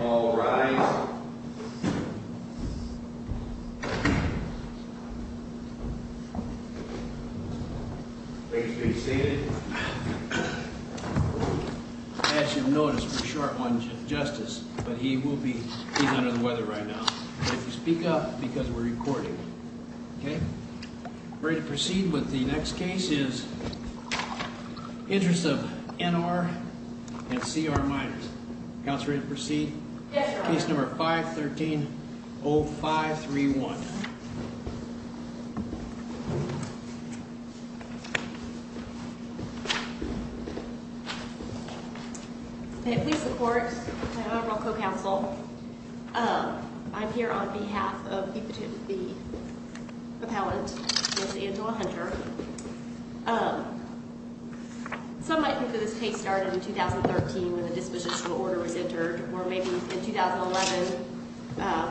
All rise. Please be seated. As you've noticed, we're short on justice, but he will be, he's under the weather right now. But if you speak up, because we're recording. Okay? Ready to proceed with the next case is Interest of N.R. and C.R. Minors. Counselor, ready to proceed? Yes, Your Honor. Case number 513-0531. May it please the Court, my Honorable Co-Counsel, I'm here on behalf of the appellant, Ms. Angela Hunter. Some might think that this case started in 2013 when the disposition order was entered, or maybe it was in 2011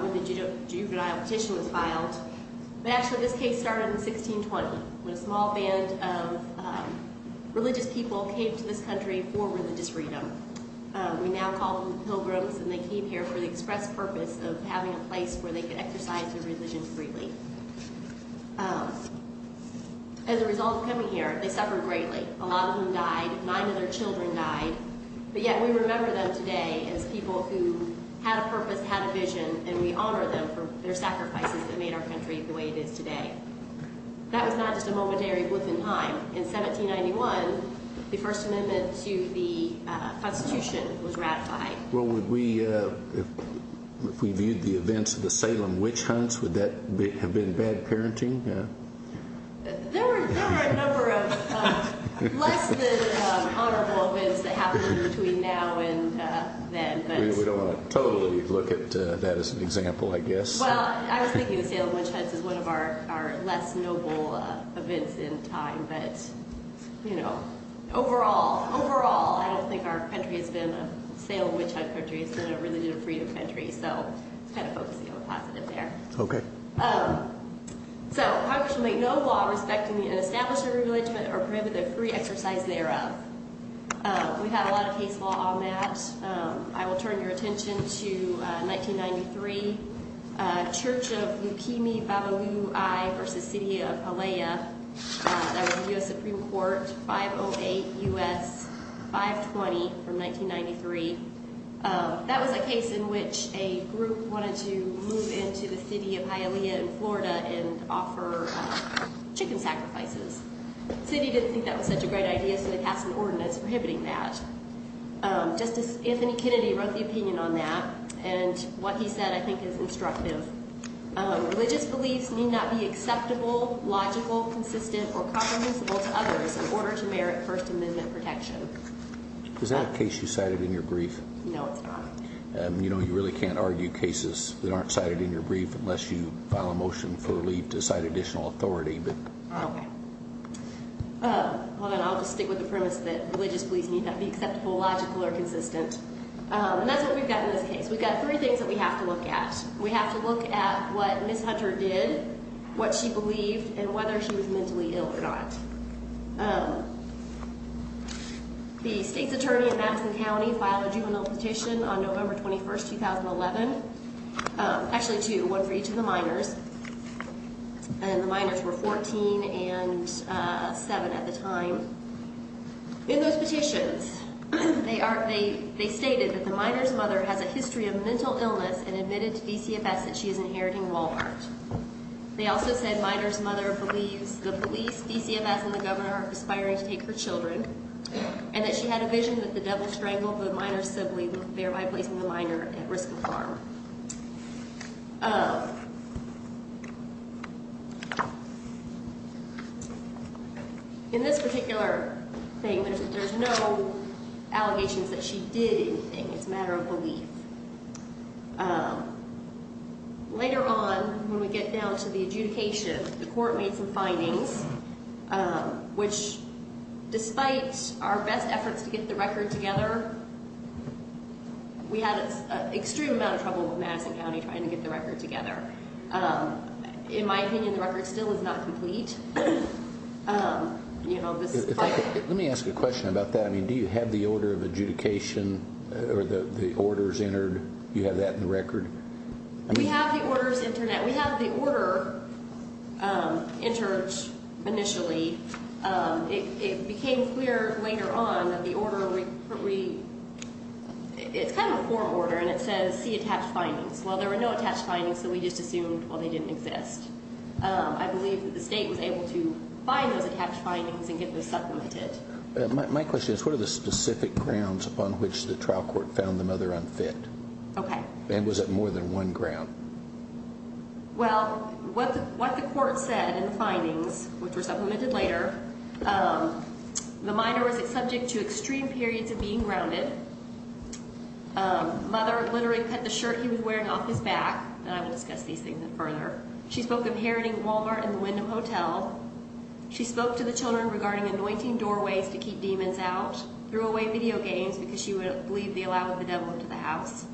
when the juvenile petition was filed. But actually this case started in 1620, when a small band of religious people came to this country for religious freedom. We now call them pilgrims, and they came here for the express purpose of having a place where they could exercise their religion freely. As a result of coming here, they suffered greatly. A lot of them died. Nine of their children died. But yet we remember them today as people who had a purpose, had a vision, and we honor them for their sacrifices that made our country the way it is today. That was not just a momentary blip in time. In 1791, the First Amendment to the Constitution was ratified. Well, if we viewed the events of the Salem Witch Hunts, would that have been bad parenting? There were a number of less than honorable events that happened between now and then. We don't want to totally look at that as an example, I guess. Well, I was thinking the Salem Witch Hunts is one of our less noble events in time. But, you know, overall, overall, I don't think our country has been a Salem Witch Hunt country. It's been a religious freedom country. So let's kind of focus on the positive there. Okay. So Congress will make no law respecting the establishment of a religion or prohibiting the free exercise thereof. We've had a lot of case law on that. I will turn your attention to 1993. Church of Lupimi Babalui v. City of Hialeah. That was a U.S. Supreme Court 508 U.S. 520 from 1993. That was a case in which a group wanted to move into the city of Hialeah in Florida and offer chicken sacrifices. The city didn't think that was such a great idea, so they passed an ordinance prohibiting that. Justice Anthony Kennedy wrote the opinion on that. And what he said, I think, is instructive. Religious beliefs need not be acceptable, logical, consistent, or comprehensible to others in order to merit First Amendment protection. Is that a case you cited in your brief? No, it's not. You know, you really can't argue cases that aren't cited in your brief unless you file a motion for leave to cite additional authority. Okay. Hold on. I'll just stick with the premise that religious beliefs need not be acceptable, logical, or consistent. And that's what we've got in this case. We've got three things that we have to look at. We have to look at what Ms. Hunter did, what she believed, and whether she was mentally ill or not. The state's attorney in Madison County filed a juvenile petition on November 21, 2011. Actually, two, one for each of the minors. And the minors were 14 and 7 at the time. In those petitions, they stated that the minor's mother has a history of mental illness and admitted to DCFS that she is inheriting Wal-Mart. They also said minor's mother believes the police, DCFS, and the governor are aspiring to take her children, and that she had a vision that the devil strangled the minor's sibling, thereby placing the minor at risk of harm. In this particular thing, there's no allegations that she did anything. It's a matter of belief. Later on, when we get down to the adjudication, the court made some findings, which, despite our best efforts to get the record together, we had an extreme amount of trouble with Madison County trying to get the record together. In my opinion, the record still is not complete. Let me ask you a question about that. Do you have the order of adjudication or the orders entered? Do you have that in the record? We have the orders entered initially. It became clear later on that the order, it's kind of a form order, and it says, see attached findings. Well, there were no attached findings, so we just assumed, well, they didn't exist. I believe that the state was able to find those attached findings and get them supplemented. My question is, what are the specific grounds upon which the trial court found the mother unfit? Okay. And was it more than one ground? Well, what the court said in the findings, which were supplemented later, the minor was subject to extreme periods of being grounded. Mother literally cut the shirt he was wearing off his back, and I will discuss these things further. She spoke of heriting Wal-Mart and the Wyndham Hotel. She spoke to the children regarding anointing doorways to keep demons out, threw away video games because she would believe the allow of the devil into the house.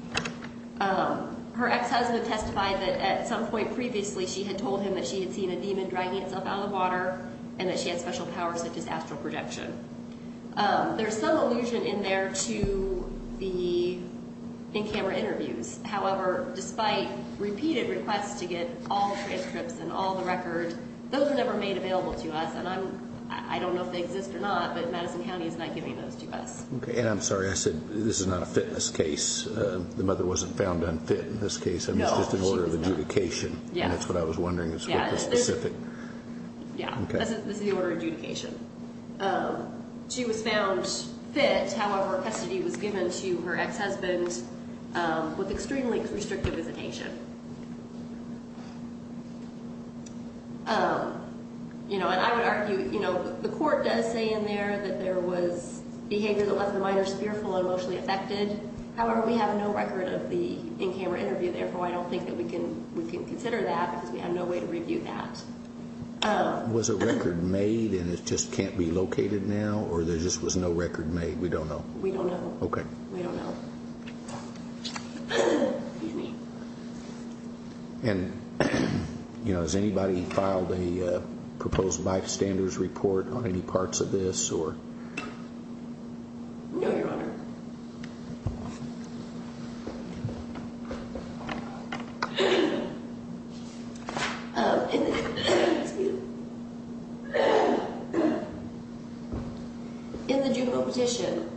Her ex-husband testified that at some point previously she had told him that she had seen a demon dragging itself out of the water and that she had special powers such as astral projection. There's some allusion in there to the in-camera interviews. However, despite repeated requests to get all transcripts and all the records, those were never made available to us. And I don't know if they exist or not, but Madison County is not giving those to us. Okay. And I'm sorry, I said this is not a fitness case. The mother wasn't found unfit in this case. No, she was not. It's just an order of adjudication. Yeah. And that's what I was wondering is what was specific. Yeah. Okay. This is the order of adjudication. She was found fit. However, custody was given to her ex-husband with extremely restrictive visitation. You know, and I would argue, you know, the court does say in there that there was behavior that left the minor spearful and emotionally affected. However, we have no record of the in-camera interview. Therefore, I don't think that we can consider that because we have no way to review that. Was a record made and it just can't be located now? Or there just was no record made? We don't know. We don't know. Okay. We don't know. Excuse me. And, you know, has anybody filed a proposed bystander's report on any parts of this or? No, Your Honor. Excuse me. In the juvenile petition,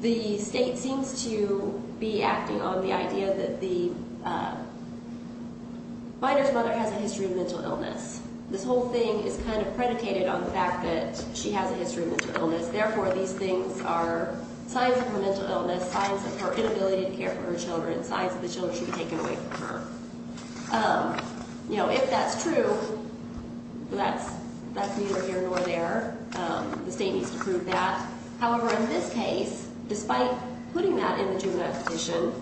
the state seems to be acting on the idea that the minor's mother has a history of mental illness. This whole thing is kind of predicated on the fact that she has a history of mental illness. Therefore, these things are signs of her mental illness, signs of her inability to care for her children, signs that the children should be taken away from her. You know, if that's true, that's neither here nor there. The state needs to prove that. However, in this case, despite putting that in the juvenile petition,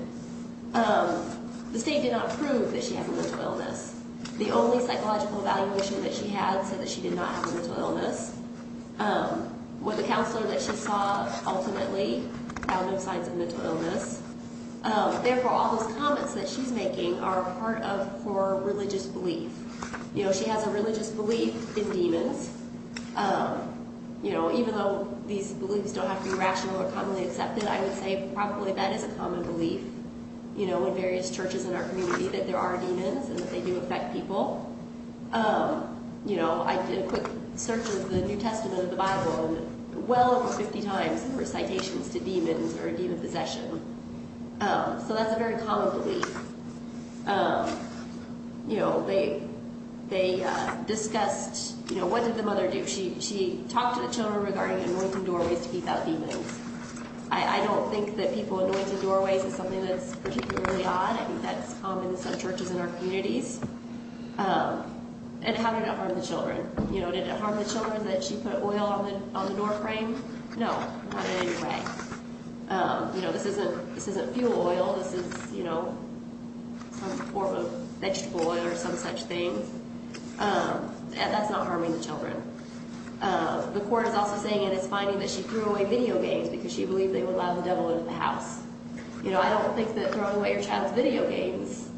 the state did not prove that she has a mental illness. The only psychological evaluation that she had said that she did not have a mental illness. The counselor that she saw ultimately found no signs of mental illness. Therefore, all those comments that she's making are part of her religious belief. You know, she has a religious belief in demons. You know, even though these beliefs don't have to be rational or commonly accepted, I would say probably that is a common belief, you know, in various churches in our community, that there are demons and that they do affect people. You know, I did a quick search of the New Testament of the Bible, and well over 50 times there were citations to demons or demon possession. So that's a very common belief. You know, they discussed, you know, what did the mother do? She talked to the children regarding anointing doorways to keep out demons. I don't think that people anointing doorways is something that's particularly odd. I think that's common in some churches in our communities. And how did it harm the children? You know, did it harm the children that she put oil on the door frame? No, not in any way. You know, this isn't fuel oil. This is, you know, some form of vegetable oil or some such thing. That's not harming the children. The court is also saying that it's finding that she threw away video games because she believed they would allow the devil into the house. You know, I don't think that throwing away your child's video games,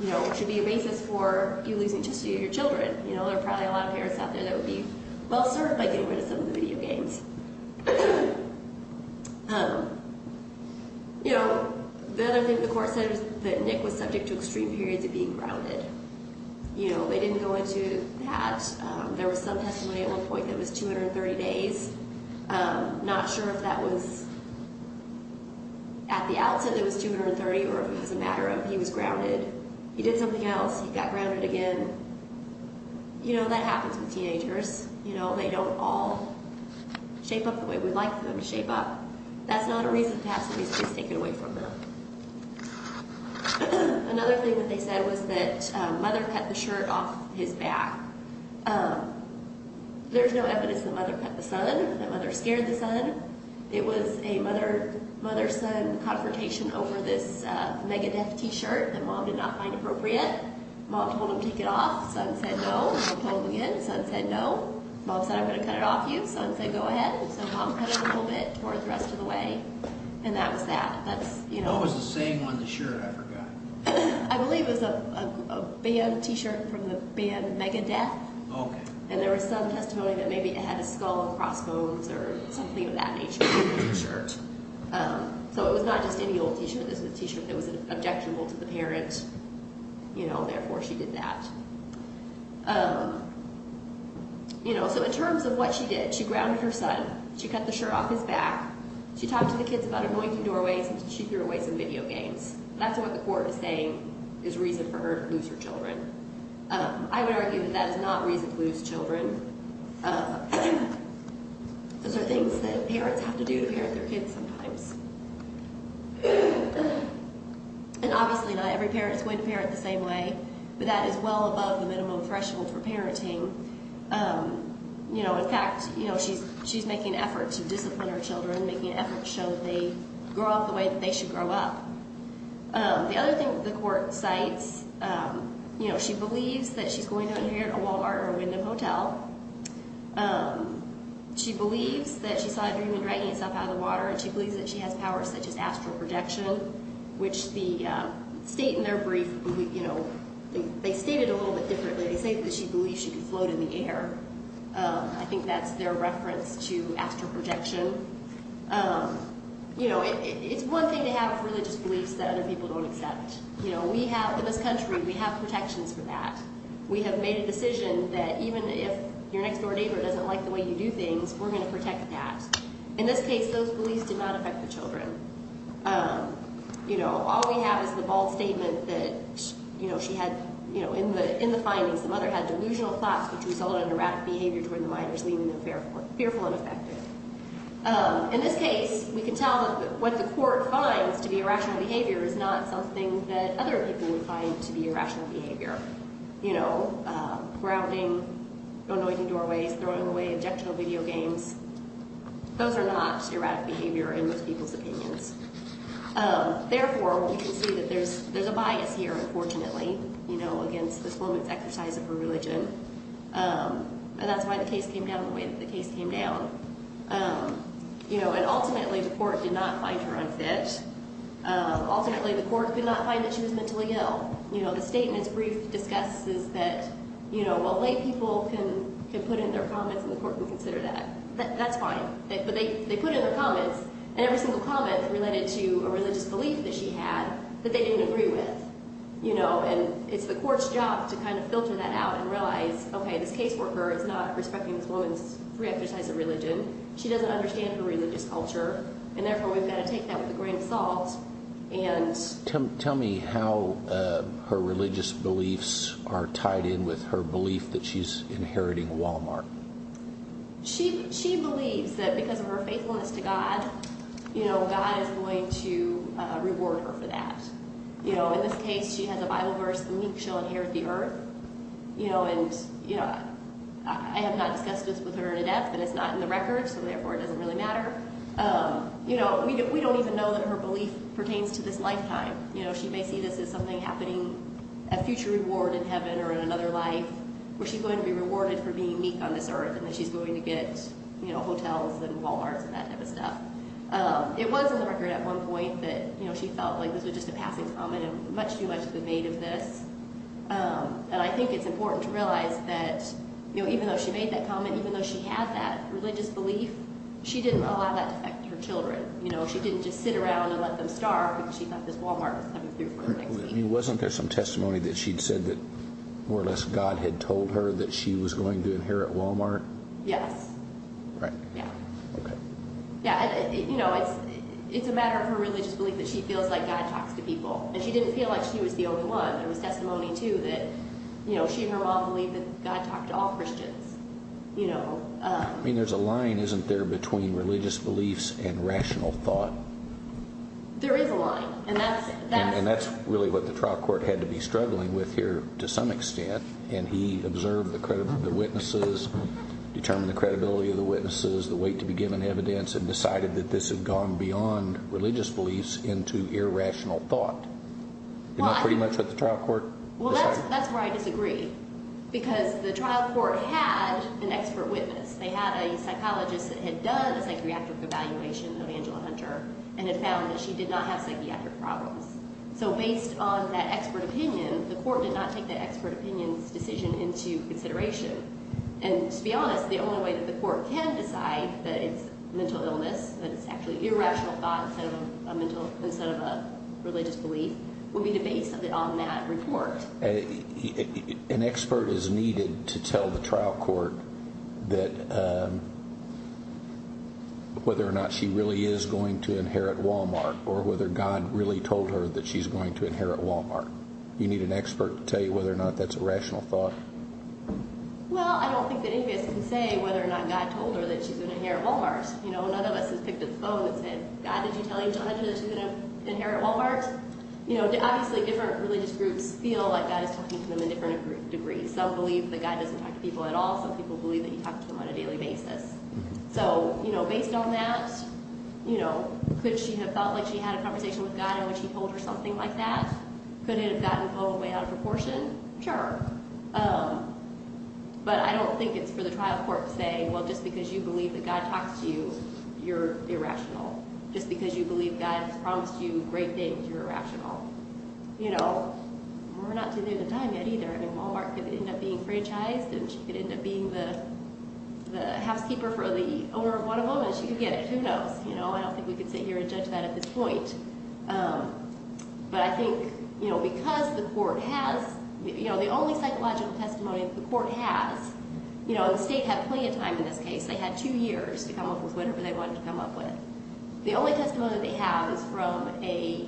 you know, should be a basis for you losing custody of your children. You know, there are probably a lot of parents out there that would be well served by getting rid of some of the video games. You know, the other thing the court said is that Nick was subject to extreme periods of being grounded. You know, they didn't go into that. There was some testimony at one point that was 230 days. Not sure if that was at the outset it was 230 or if it was a matter of he was grounded. He did something else. He got grounded again. You know, that happens with teenagers. You know, they don't all shape up the way we'd like them to shape up. That's not a reason to have somebody's kids taken away from them. Another thing that they said was that Mother cut the shirt off his back. There's no evidence that Mother cut the son, that Mother scared the son. It was a mother-son confrontation over this Megadeth T-shirt that Mom did not find appropriate. Mom told him to take it off. Son said no. Mom told him again. Son said no. Mom said I'm going to cut it off you. Son said go ahead. So Mom cut it a little bit toward the rest of the way, and that was that. What was the saying on the shirt I forgot? I believe it was a band T-shirt from the band Megadeth, and there was some testimony that maybe it had a skull and crossbones or something of that nature on the T-shirt. So it was not just any old T-shirt. It was a T-shirt that was objectionable to the parent, you know, therefore she did that. You know, so in terms of what she did, she grounded her son. She cut the shirt off his back. She talked to the kids about anointing doorways, and she threw away some video games. That's what the court is saying is reason for her to lose her children. I would argue that that is not reason to lose children. Those are things that parents have to do to parent their kids sometimes. And obviously not every parent is going to parent the same way, but that is well above the minimum threshold for parenting. You know, in fact, you know, she's making an effort to discipline her children, making an effort to show that they grow up the way that they should grow up. The other thing that the court cites, you know, she believes that she's going to inherit a Walmart or a Wyndham Hotel. She believes that she saw a dream of dragging herself out of the water, and she believes that she has powers such as astral projection, which the state in their brief, you know, they state it a little bit differently. They say that she believes she could float in the air. I think that's their reference to astral projection. You know, it's one thing to have religious beliefs that other people don't accept. You know, we have, in this country, we have protections for that. We have made a decision that even if your next-door neighbor doesn't like the way you do things, we're going to protect that. In this case, those beliefs did not affect the children. You know, all we have is the bold statement that, you know, she had, you know, in the findings, the mother had delusional thoughts, which resulted in erratic behavior toward the minors, which lead to fearful and affective. In this case, we can tell that what the court finds to be irrational behavior is not something that other people would find to be irrational behavior. You know, grounding, annoying doorways, throwing away objectionable video games, those are not erratic behavior in most people's opinions. Therefore, we can see that there's a bias here, unfortunately, you know, against this woman's exercise of her religion. And that's why the case came down the way that the case came down. You know, and ultimately, the court did not find her unfit. Ultimately, the court did not find that she was mentally ill. You know, the statement's brief discusses that, you know, well, lay people can put in their comments and the court will consider that. That's fine. But they put in their comments, and every single comment related to a religious belief that she had that they didn't agree with, you know, and it's the court's job to kind of filter that out and realize, okay, this caseworker is not respecting this woman's pre-exercise of religion. She doesn't understand her religious culture. And therefore, we've got to take that with a grain of salt and... Tell me how her religious beliefs are tied in with her belief that she's inheriting Walmart. She believes that because of her faithfulness to God, you know, God is going to reward her for that. You know, in this case, she has a Bible verse, the meek shall inherit the earth. You know, and, you know, I have not discussed this with her in depth, and it's not in the record, so therefore it doesn't really matter. You know, we don't even know that her belief pertains to this lifetime. You know, she may see this as something happening, a future reward in heaven or in another life where she's going to be rewarded for being meek on this earth and that she's going to get, you know, hotels and Walmarts and that type of stuff. It was in the record at one point that, you know, she felt like this was just a passing comment and much too much of a debate of this. And I think it's important to realize that, you know, even though she made that comment, even though she had that religious belief, she didn't allow that to affect her children. You know, she didn't just sit around and let them starve because she thought this Walmart was coming through for her next week. Wasn't there some testimony that she'd said that more or less God had told her that she was going to inherit Walmart? Yes. Right. Yeah. Okay. Yeah, you know, it's a matter of her religious belief that she feels like God talks to people. And she didn't feel like she was the only one. There was testimony too that, you know, she and her mom believed that God talked to all Christians. You know. I mean, there's a line, isn't there, between religious beliefs and rational thought? There is a line. And that's really what the trial court had to be struggling with here to some extent. And he observed the witnesses, determined the credibility of the witnesses, the weight to be given evidence, and decided that this had gone beyond religious beliefs into irrational thought. Isn't that pretty much what the trial court decided? Well, that's where I disagree because the trial court had an expert witness. They had a psychologist that had done a psychiatric evaluation of Angela Hunter and had found that she did not have psychiatric problems. So based on that expert opinion, the court did not take that expert opinion's decision into consideration. And to be honest, the only way that the court can decide that it's mental illness, that it's actually irrational thought instead of a religious belief, would be to base it on that report. An expert is needed to tell the trial court that whether or not she really is going to inherit Walmart or whether God really told her that she's going to inherit Walmart. You need an expert to tell you whether or not that's a rational thought? Well, I don't think that any of us can say whether or not God told her that she's going to inherit Walmart. You know, none of us has picked up the phone and said, God, did you tell Angela Hunter that she's going to inherit Walmart? You know, obviously different religious groups feel like God is talking to them in different degrees. Some believe that God doesn't talk to people at all. Some people believe that he talks to them on a daily basis. So, you know, based on that, you know, could she have felt like she had a conversation with God in which he told her something like that? Could it have gotten all the way out of proportion? Sure. But I don't think it's for the trial court to say, well, just because you believe that God talks to you, you're irrational. Just because you believe God has promised you great things, you're irrational. You know, we're not too near the time yet either. I mean, Walmart could end up being franchised and she could end up being the housekeeper for the owner of one of them and she could get it. Who knows? You know, I don't think we could sit here and judge that at this point. But I think, you know, because the court has, you know, the only psychological testimony the court has, you know, the state had plenty of time in this case. They had two years to come up with whatever they wanted to come up with. The only testimony they have is from a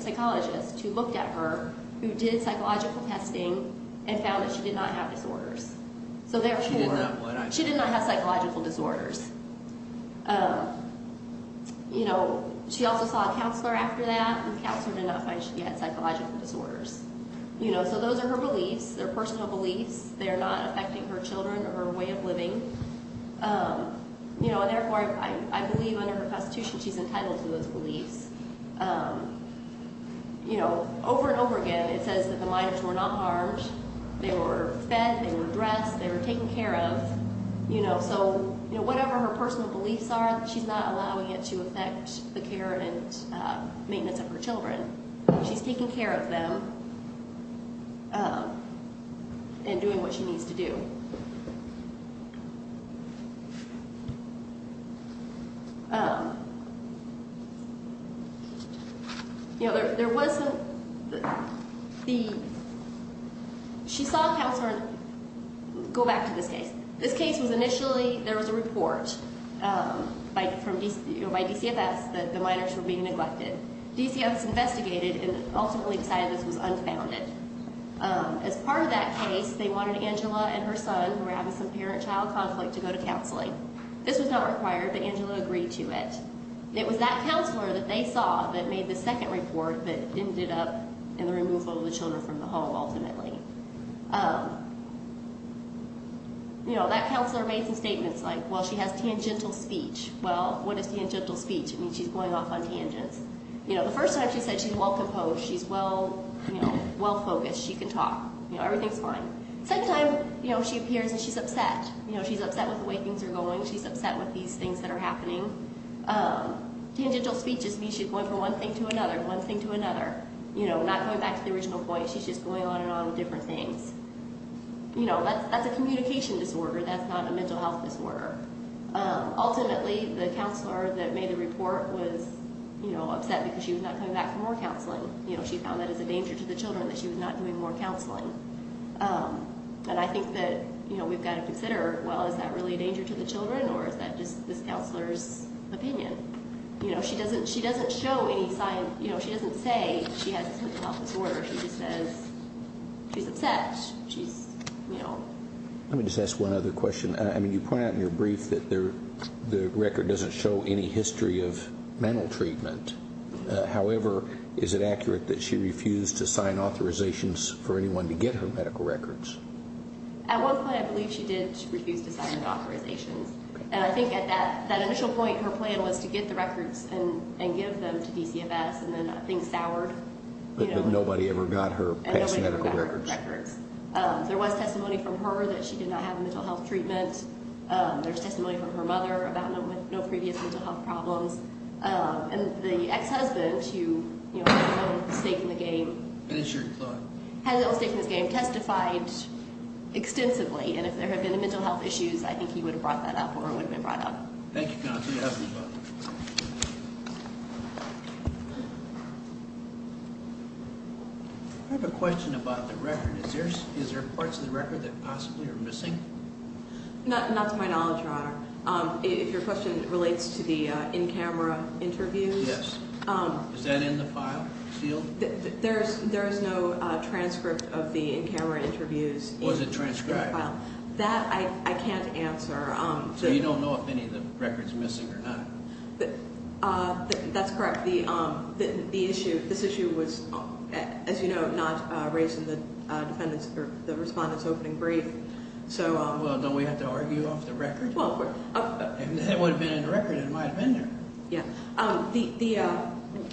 psychologist who looked at her, who did psychological testing and found that she did not have disorders. So therefore, she did not have psychological disorders. You know, she also saw a counselor after that and the counselor did not find she had psychological disorders. You know, so those are her beliefs. They're personal beliefs. They're not affecting her children or her way of living. You know, and therefore, I believe under her constitution, she's entitled to those beliefs. You know, over and over again, it says that the minors were not harmed. They were fed. They were dressed. They were taken care of. You know, so, you know, whatever her personal beliefs are, she's not allowing it to affect the care and maintenance of her children. She's taking care of them and doing what she needs to do. You know, there was a, the, she saw a counselor, go back to this case. This case was initially, there was a report by DCFS that the minors were being neglected. DCFS investigated and ultimately decided this was unfounded. As part of that case, they wanted Angela and her son, who were having some parent-child conflict, to go to counseling. This was not required, but Angela agreed to it. It was that counselor that they saw that made the second report that ended up in the removal of the children from the home, ultimately. You know, that counselor made some statements like, well, she has tangential speech. Well, what is tangential speech? It means she's going off on tangents. You know, the first time, she said she's well-composed. She's well, you know, well-focused. She can talk. You know, everything's fine. Second time, you know, she appears and she's upset. You know, she's upset with the way things are going. She's upset with these things that are happening. Tangential speech just means she's going from one thing to another, one thing to another. You know, not going back to the original point. She's just going on and on with different things. You know, that's a communication disorder. That's not a mental health disorder. Ultimately, the counselor that made the report was, you know, upset because she was not coming back for more counseling. You know, she found that as a danger to the children, that she was not doing more counseling. And I think that, you know, we've got to consider, well, is that really a danger to the children or is that just this counselor's opinion? You know, she doesn't show any signs. You know, she doesn't say she has a mental health disorder. She just says she's upset. She's, you know. Let me just ask one other question. I mean, you point out in your brief that the record doesn't show any history of mental treatment. However, is it accurate that she refused to sign authorizations for anyone to get her medical records? At one point, I believe she did refuse to sign authorizations. And I think at that initial point, her plan was to get the records and give them to DCFS, and then things soured. But nobody ever got her past medical records. And nobody ever got her records. There was testimony from her that she did not have a mental health treatment. There's testimony from her mother about no previous mental health problems. And the ex-husband, who, you know, has no stake in the game. What is your thought? Has no stake in the game. Testified extensively. And if there had been mental health issues, I think he would have brought that up or it would have been brought up. Thank you, counsel. You have the floor. I have a question about the record. Is there parts of the record that possibly are missing? Not to my knowledge, Your Honor. If your question relates to the in-camera interviews. Yes. Is that in the file? The field? There is no transcript of the in-camera interviews. Was it transcribed? That I can't answer. So you don't know if any of the record is missing or not? That's correct. The issue, this issue was, as you know, not raised in the defendant's or the respondent's opening brief. Well, don't we have to argue off the record? If it would have been in the record, it might have been there.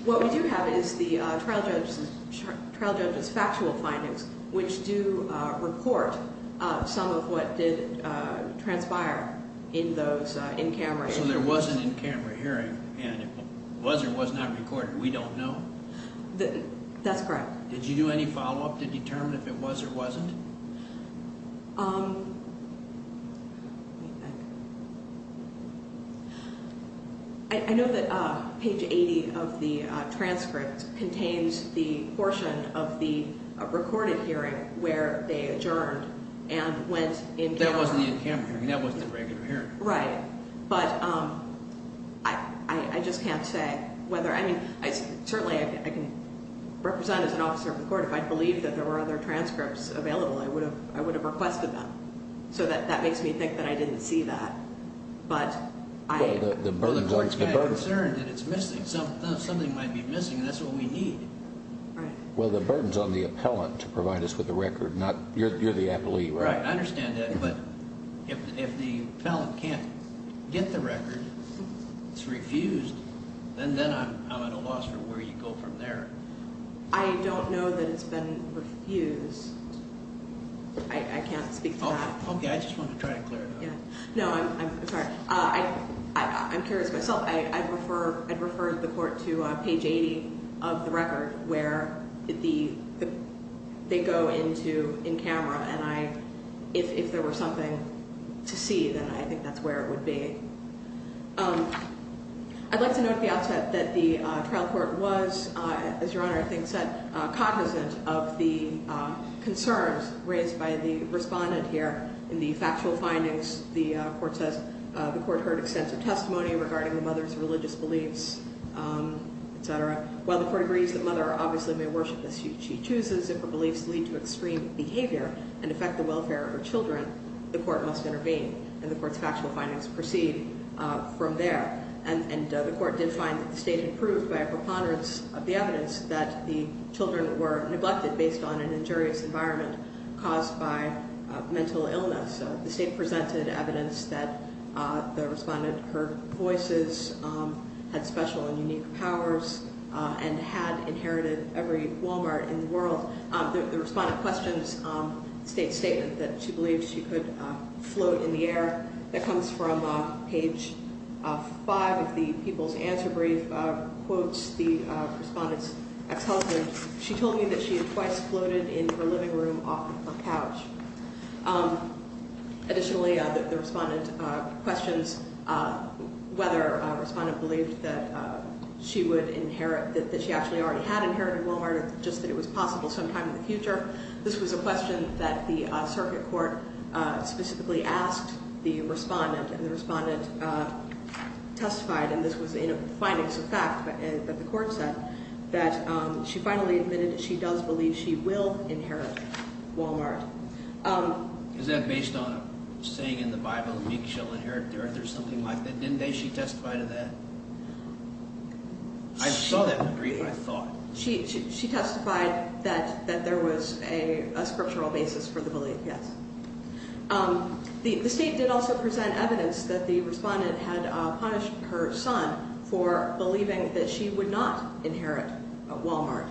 What we do have is the trial judge's factual findings, which do report some of what did transpire in those in-camera hearings. So there was an in-camera hearing, and if it was or was not recorded, we don't know? That's correct. Did you do any follow-up to determine if it was or wasn't? Let me think. I know that page 80 of the transcript contains the portion of the recorded hearing where they adjourned and went in camera. That wasn't the in-camera hearing. That wasn't the regular hearing. Right. But I just can't say whether, I mean, certainly I can represent as an officer of the court. If I believed that there were other transcripts available, I would have requested them. So that makes me think that I didn't see that. But I... Well, the court's concerned that it's missing. Something might be missing, and that's what we need. Right. Well, the burden's on the appellant to provide us with the record, not, you're the appellee, right? I understand that. But if the appellant can't get the record, it's refused, then I'm at a loss for where you go from there. I don't know that it's been refused. I can't speak to that. Okay. I just wanted to try to clear it up. Yeah. No, I'm sorry. I'm curious myself. I'd refer the court to page 80 of the record where they go into in camera, and if there were something to see, then I think that's where it would be. I'd like to note at the outset that the trial court was, as Your Honor, I think, said, cognizant of the concerns raised by the respondent here. In the factual findings, the court heard extensive testimony regarding the mother's religious beliefs, et cetera. While the court agrees that mother obviously may worship as she chooses, if her beliefs lead to extreme behavior and affect the welfare of her children, the court must intervene, and the court's factual findings proceed from there. And the court did find that the state had proved by a preponderance of the evidence that the children were neglected based on an injurious environment caused by mental illness. The state presented evidence that the respondent heard voices, had special and unique powers, and had inherited every Walmart in the world. The respondent questions the state's statement that she believed she could float in the air. That comes from page 5 of the people's answer brief, quotes the respondent's ex-husband. She told me that she had twice floated in her living room off of a couch. Additionally, the respondent questions whether a respondent believed that she would inherit, that she actually already had inherited Walmart, just that it was possible sometime in the future. This was a question that the circuit court specifically asked the respondent, and the respondent testified, and this was in a findings of fact that the court said, that she finally admitted that she does believe she will inherit Walmart. Is that based on a saying in the Bible, meek shall inherit the earth, or something like that? Didn't she testify to that? I saw that in the brief, I thought. She testified that there was a scriptural basis for the belief, yes. The state did also present evidence that the respondent had punished her son for believing that she would not inherit Walmart.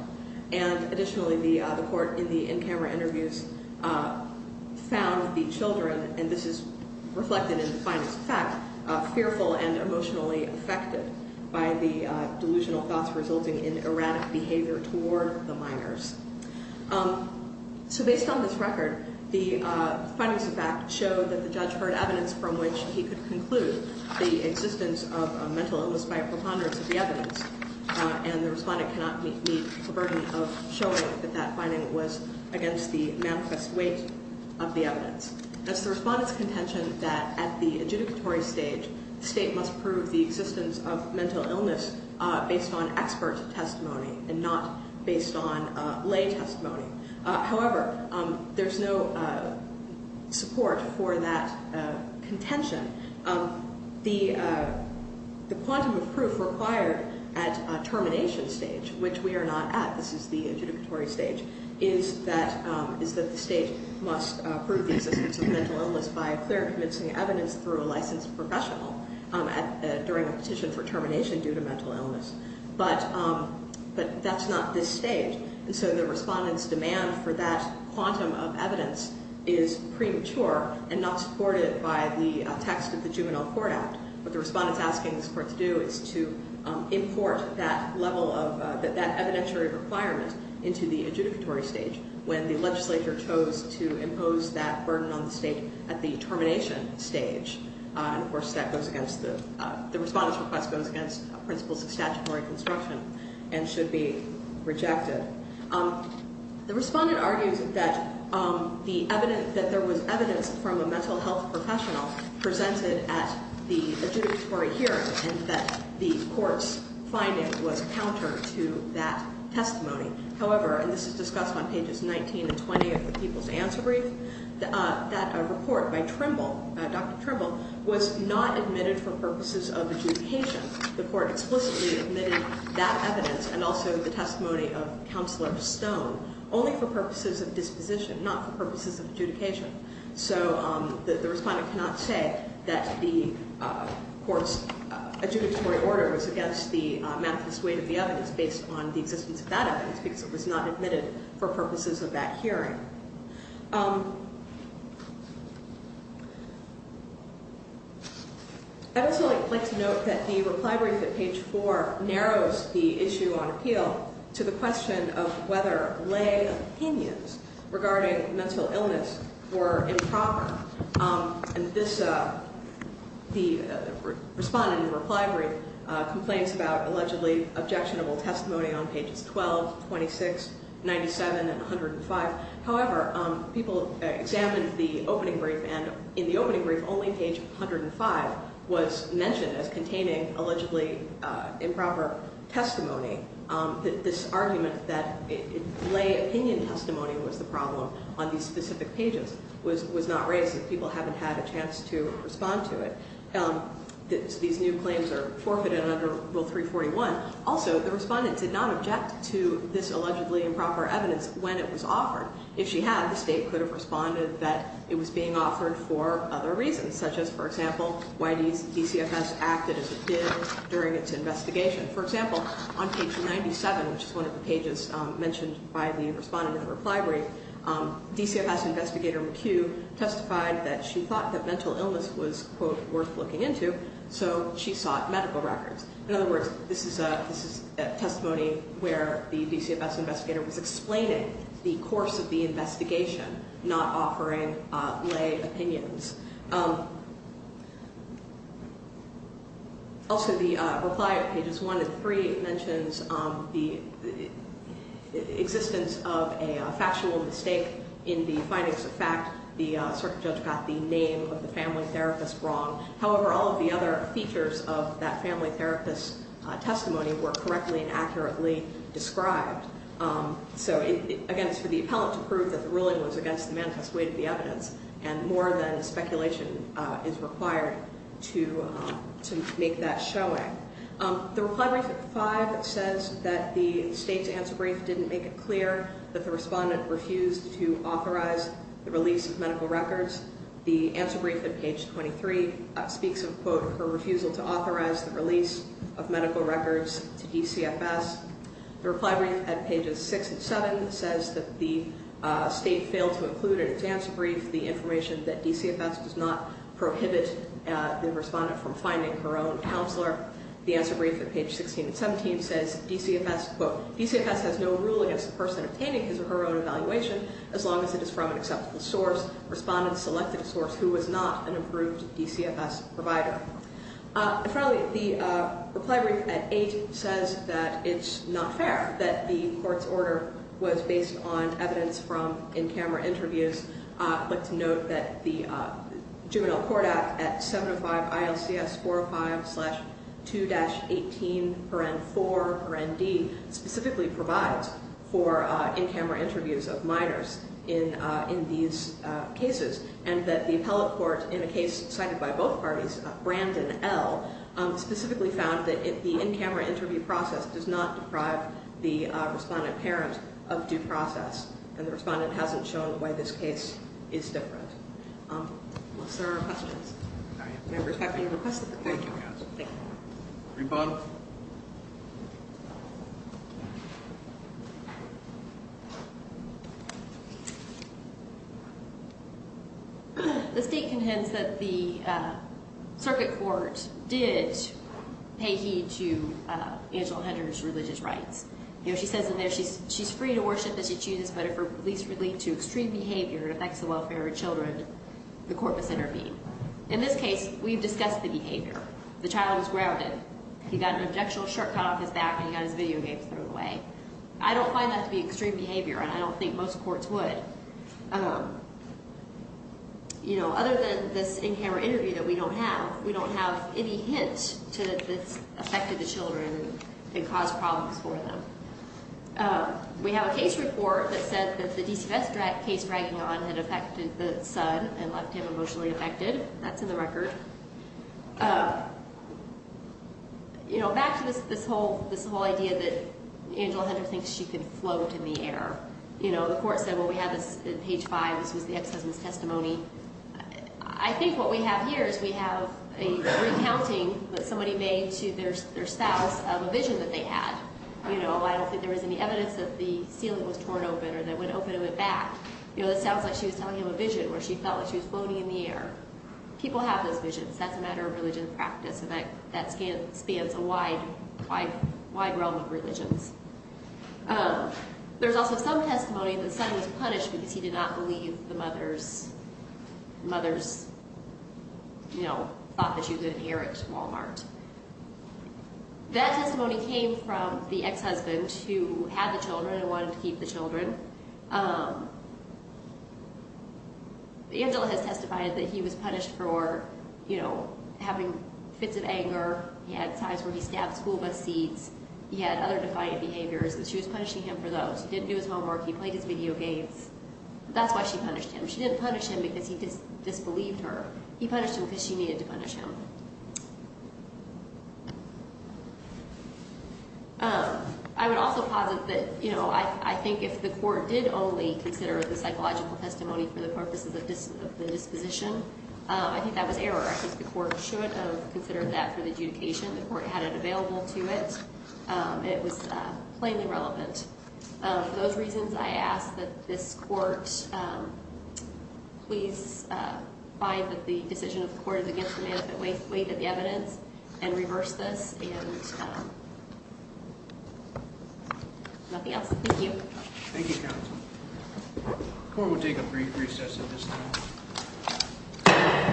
And additionally, the court in the in-camera interviews found the children, and this is reflected in the findings of fact, fearful and emotionally affected by the delusional thoughts resulting in erratic behavior toward the minors. So based on this record, the findings of fact showed that the judge heard evidence from which he could conclude the existence of a mental illness by a preponderance of the evidence, and the respondent cannot meet the burden of showing that that finding was against the manifest weight of the evidence. As the respondent's contention that at the adjudicatory stage, the state must prove the existence of mental illness based on expert testimony and not based on lay testimony. However, there's no support for that contention. The quantum of proof required at termination stage, which we are not at, this is the adjudicatory stage, is that the state must prove the existence of mental illness by clear and convincing evidence through a licensed professional during a petition for termination due to mental illness. But that's not this stage, and so the respondent's demand for that quantum of evidence is premature and not supported by the text of the Juvenile Court Act. What the respondent's asking this court to do is to import that level of, that evidentiary requirement into the adjudicatory stage when the legislature chose to impose that burden on the state at the termination stage. And, of course, that goes against the, the respondent's request goes against principles of statutory construction and should be rejected. The respondent argues that the evidence, that there was evidence from a mental health professional presented at the adjudicatory hearing and that the court's finding was counter to that testimony. However, and this is discussed on pages 19 and 20 of the People's Answer Brief, that a report by Trimble, Dr. Trimble, was not admitted for purposes of adjudication. The court explicitly admitted that evidence and also the testimony of Counselor Stone only for purposes of disposition, not for purposes of adjudication. So the respondent cannot say that the court's adjudicatory order was against the manifest weight of the evidence based on the existence of that evidence because it was not admitted for purposes of that hearing. I would also like to note that the reply brief at page 4 narrows the issue on appeal to the question of whether lay opinions regarding mental illness were improper. And this, the respondent in the reply brief complains about allegedly objectionable testimony on pages 12, 26, 97, and 105. However, people examined the opening brief and in the opening brief only page 105 was mentioned as containing allegedly improper testimony. This argument that lay opinion testimony was the problem on these specific pages was not raised. People haven't had a chance to respond to it. These new claims are forfeited under Rule 341. Also, the respondent did not object to this allegedly improper evidence when it was offered. If she had, the State could have responded that it was being offered for other reasons, such as, for example, why DCFS acted as it did during its investigation. For example, on page 97, which is one of the pages mentioned by the respondent in the reply brief, DCFS investigator McHugh testified that she thought that mental illness was, quote, worth looking into, so she sought medical records. In other words, this is testimony where the DCFS investigator was explaining the course of the investigation, not offering lay opinions. Also, the reply on pages 1 and 3 mentions the existence of a factual mistake in the findings of fact. The circuit judge got the name of the family therapist wrong. However, all of the other features of that family therapist's testimony were correctly and accurately described. So, again, it's for the appellant to prove that the ruling was against the manifest way to the evidence, and more than speculation is required to make that showing. The reply brief at 5 says that the State's answer brief didn't make it clear, that the respondent refused to authorize the release of medical records. The answer brief at page 23 speaks of, quote, her refusal to authorize the release of medical records to DCFS. The reply brief at pages 6 and 7 says that the State failed to include in its answer brief the information that DCFS does not prohibit the respondent from finding her own counselor. The answer brief at page 16 and 17 says, quote, DCFS has no rule against the person obtaining his or her own evaluation as long as it is from an acceptable source. The respondent selected a source who was not an approved DCFS provider. And finally, the reply brief at 8 says that it's not fair that the court's order was based on evidence from in-camera interviews. I'd like to note that the Juvenile Court Act at 705 ILCS 405-2-18-4-D specifically provides for in-camera interviews of minors in these cases, and that the appellate court in a case cited by both parties, Brandon L., specifically found that the in-camera interview process does not deprive the respondent parent of due process, and the respondent hasn't shown why this case is different. Unless there are questions. Members, have any requests of the court? Thank you. Rebut. The State contends that the circuit court did pay heed to Angela Hunter's religious rights. You know, she says in there she's free to worship as she chooses, but if her beliefs relate to extreme behavior and affects the welfare of her children, the court must intervene. In this case, we've discussed the behavior. The child was grounded. He got an objectionable shirt cut off his back, and he got his video games thrown away. I don't find that to be extreme behavior, and I don't think most courts would. You know, other than this in-camera interview that we don't have, we don't have any hint that this affected the children and caused problems for them. We have a case report that said that the DCVS case dragging on had affected the son and left him emotionally affected. That's in the record. You know, back to this whole idea that Angela Hunter thinks she can float in the air. You know, the court said, well, we have this at page 5. This was the ex-husband's testimony. I think what we have here is we have a recounting that somebody made to their spouse of a vision that they had. You know, I don't think there was any evidence that the ceiling was torn open or that it went open and went back. You know, it sounds like she was telling him a vision where she felt like she was floating in the air. People have those visions. That's a matter of religion practice, and that spans a wide realm of religions. There's also some testimony that the son was punished because he did not believe the mother's, you know, thought that she was going to inherit Wal-Mart. That testimony came from the ex-husband who had the children and wanted to keep the children. Angela has testified that he was punished for, you know, having fits of anger. He had times where he stabbed school bus seats. He had other defiant behaviors, and she was punishing him for those. He didn't do his homework. He played his video games. That's why she punished him. She didn't punish him because he disbelieved her. He punished him because she needed to punish him. I would also posit that, you know, I think if the court did only consider the psychological testimony for the purposes of the disposition, I think that was error. I think the court should have considered that for the adjudication. The court had it available to it, and it was plainly relevant. For those reasons, I ask that this court please find that the decision of the court is against the benefit weight of the evidence and reverse this. And nothing else. Thank you. Thank you, counsel. The court will take a brief recess at this time.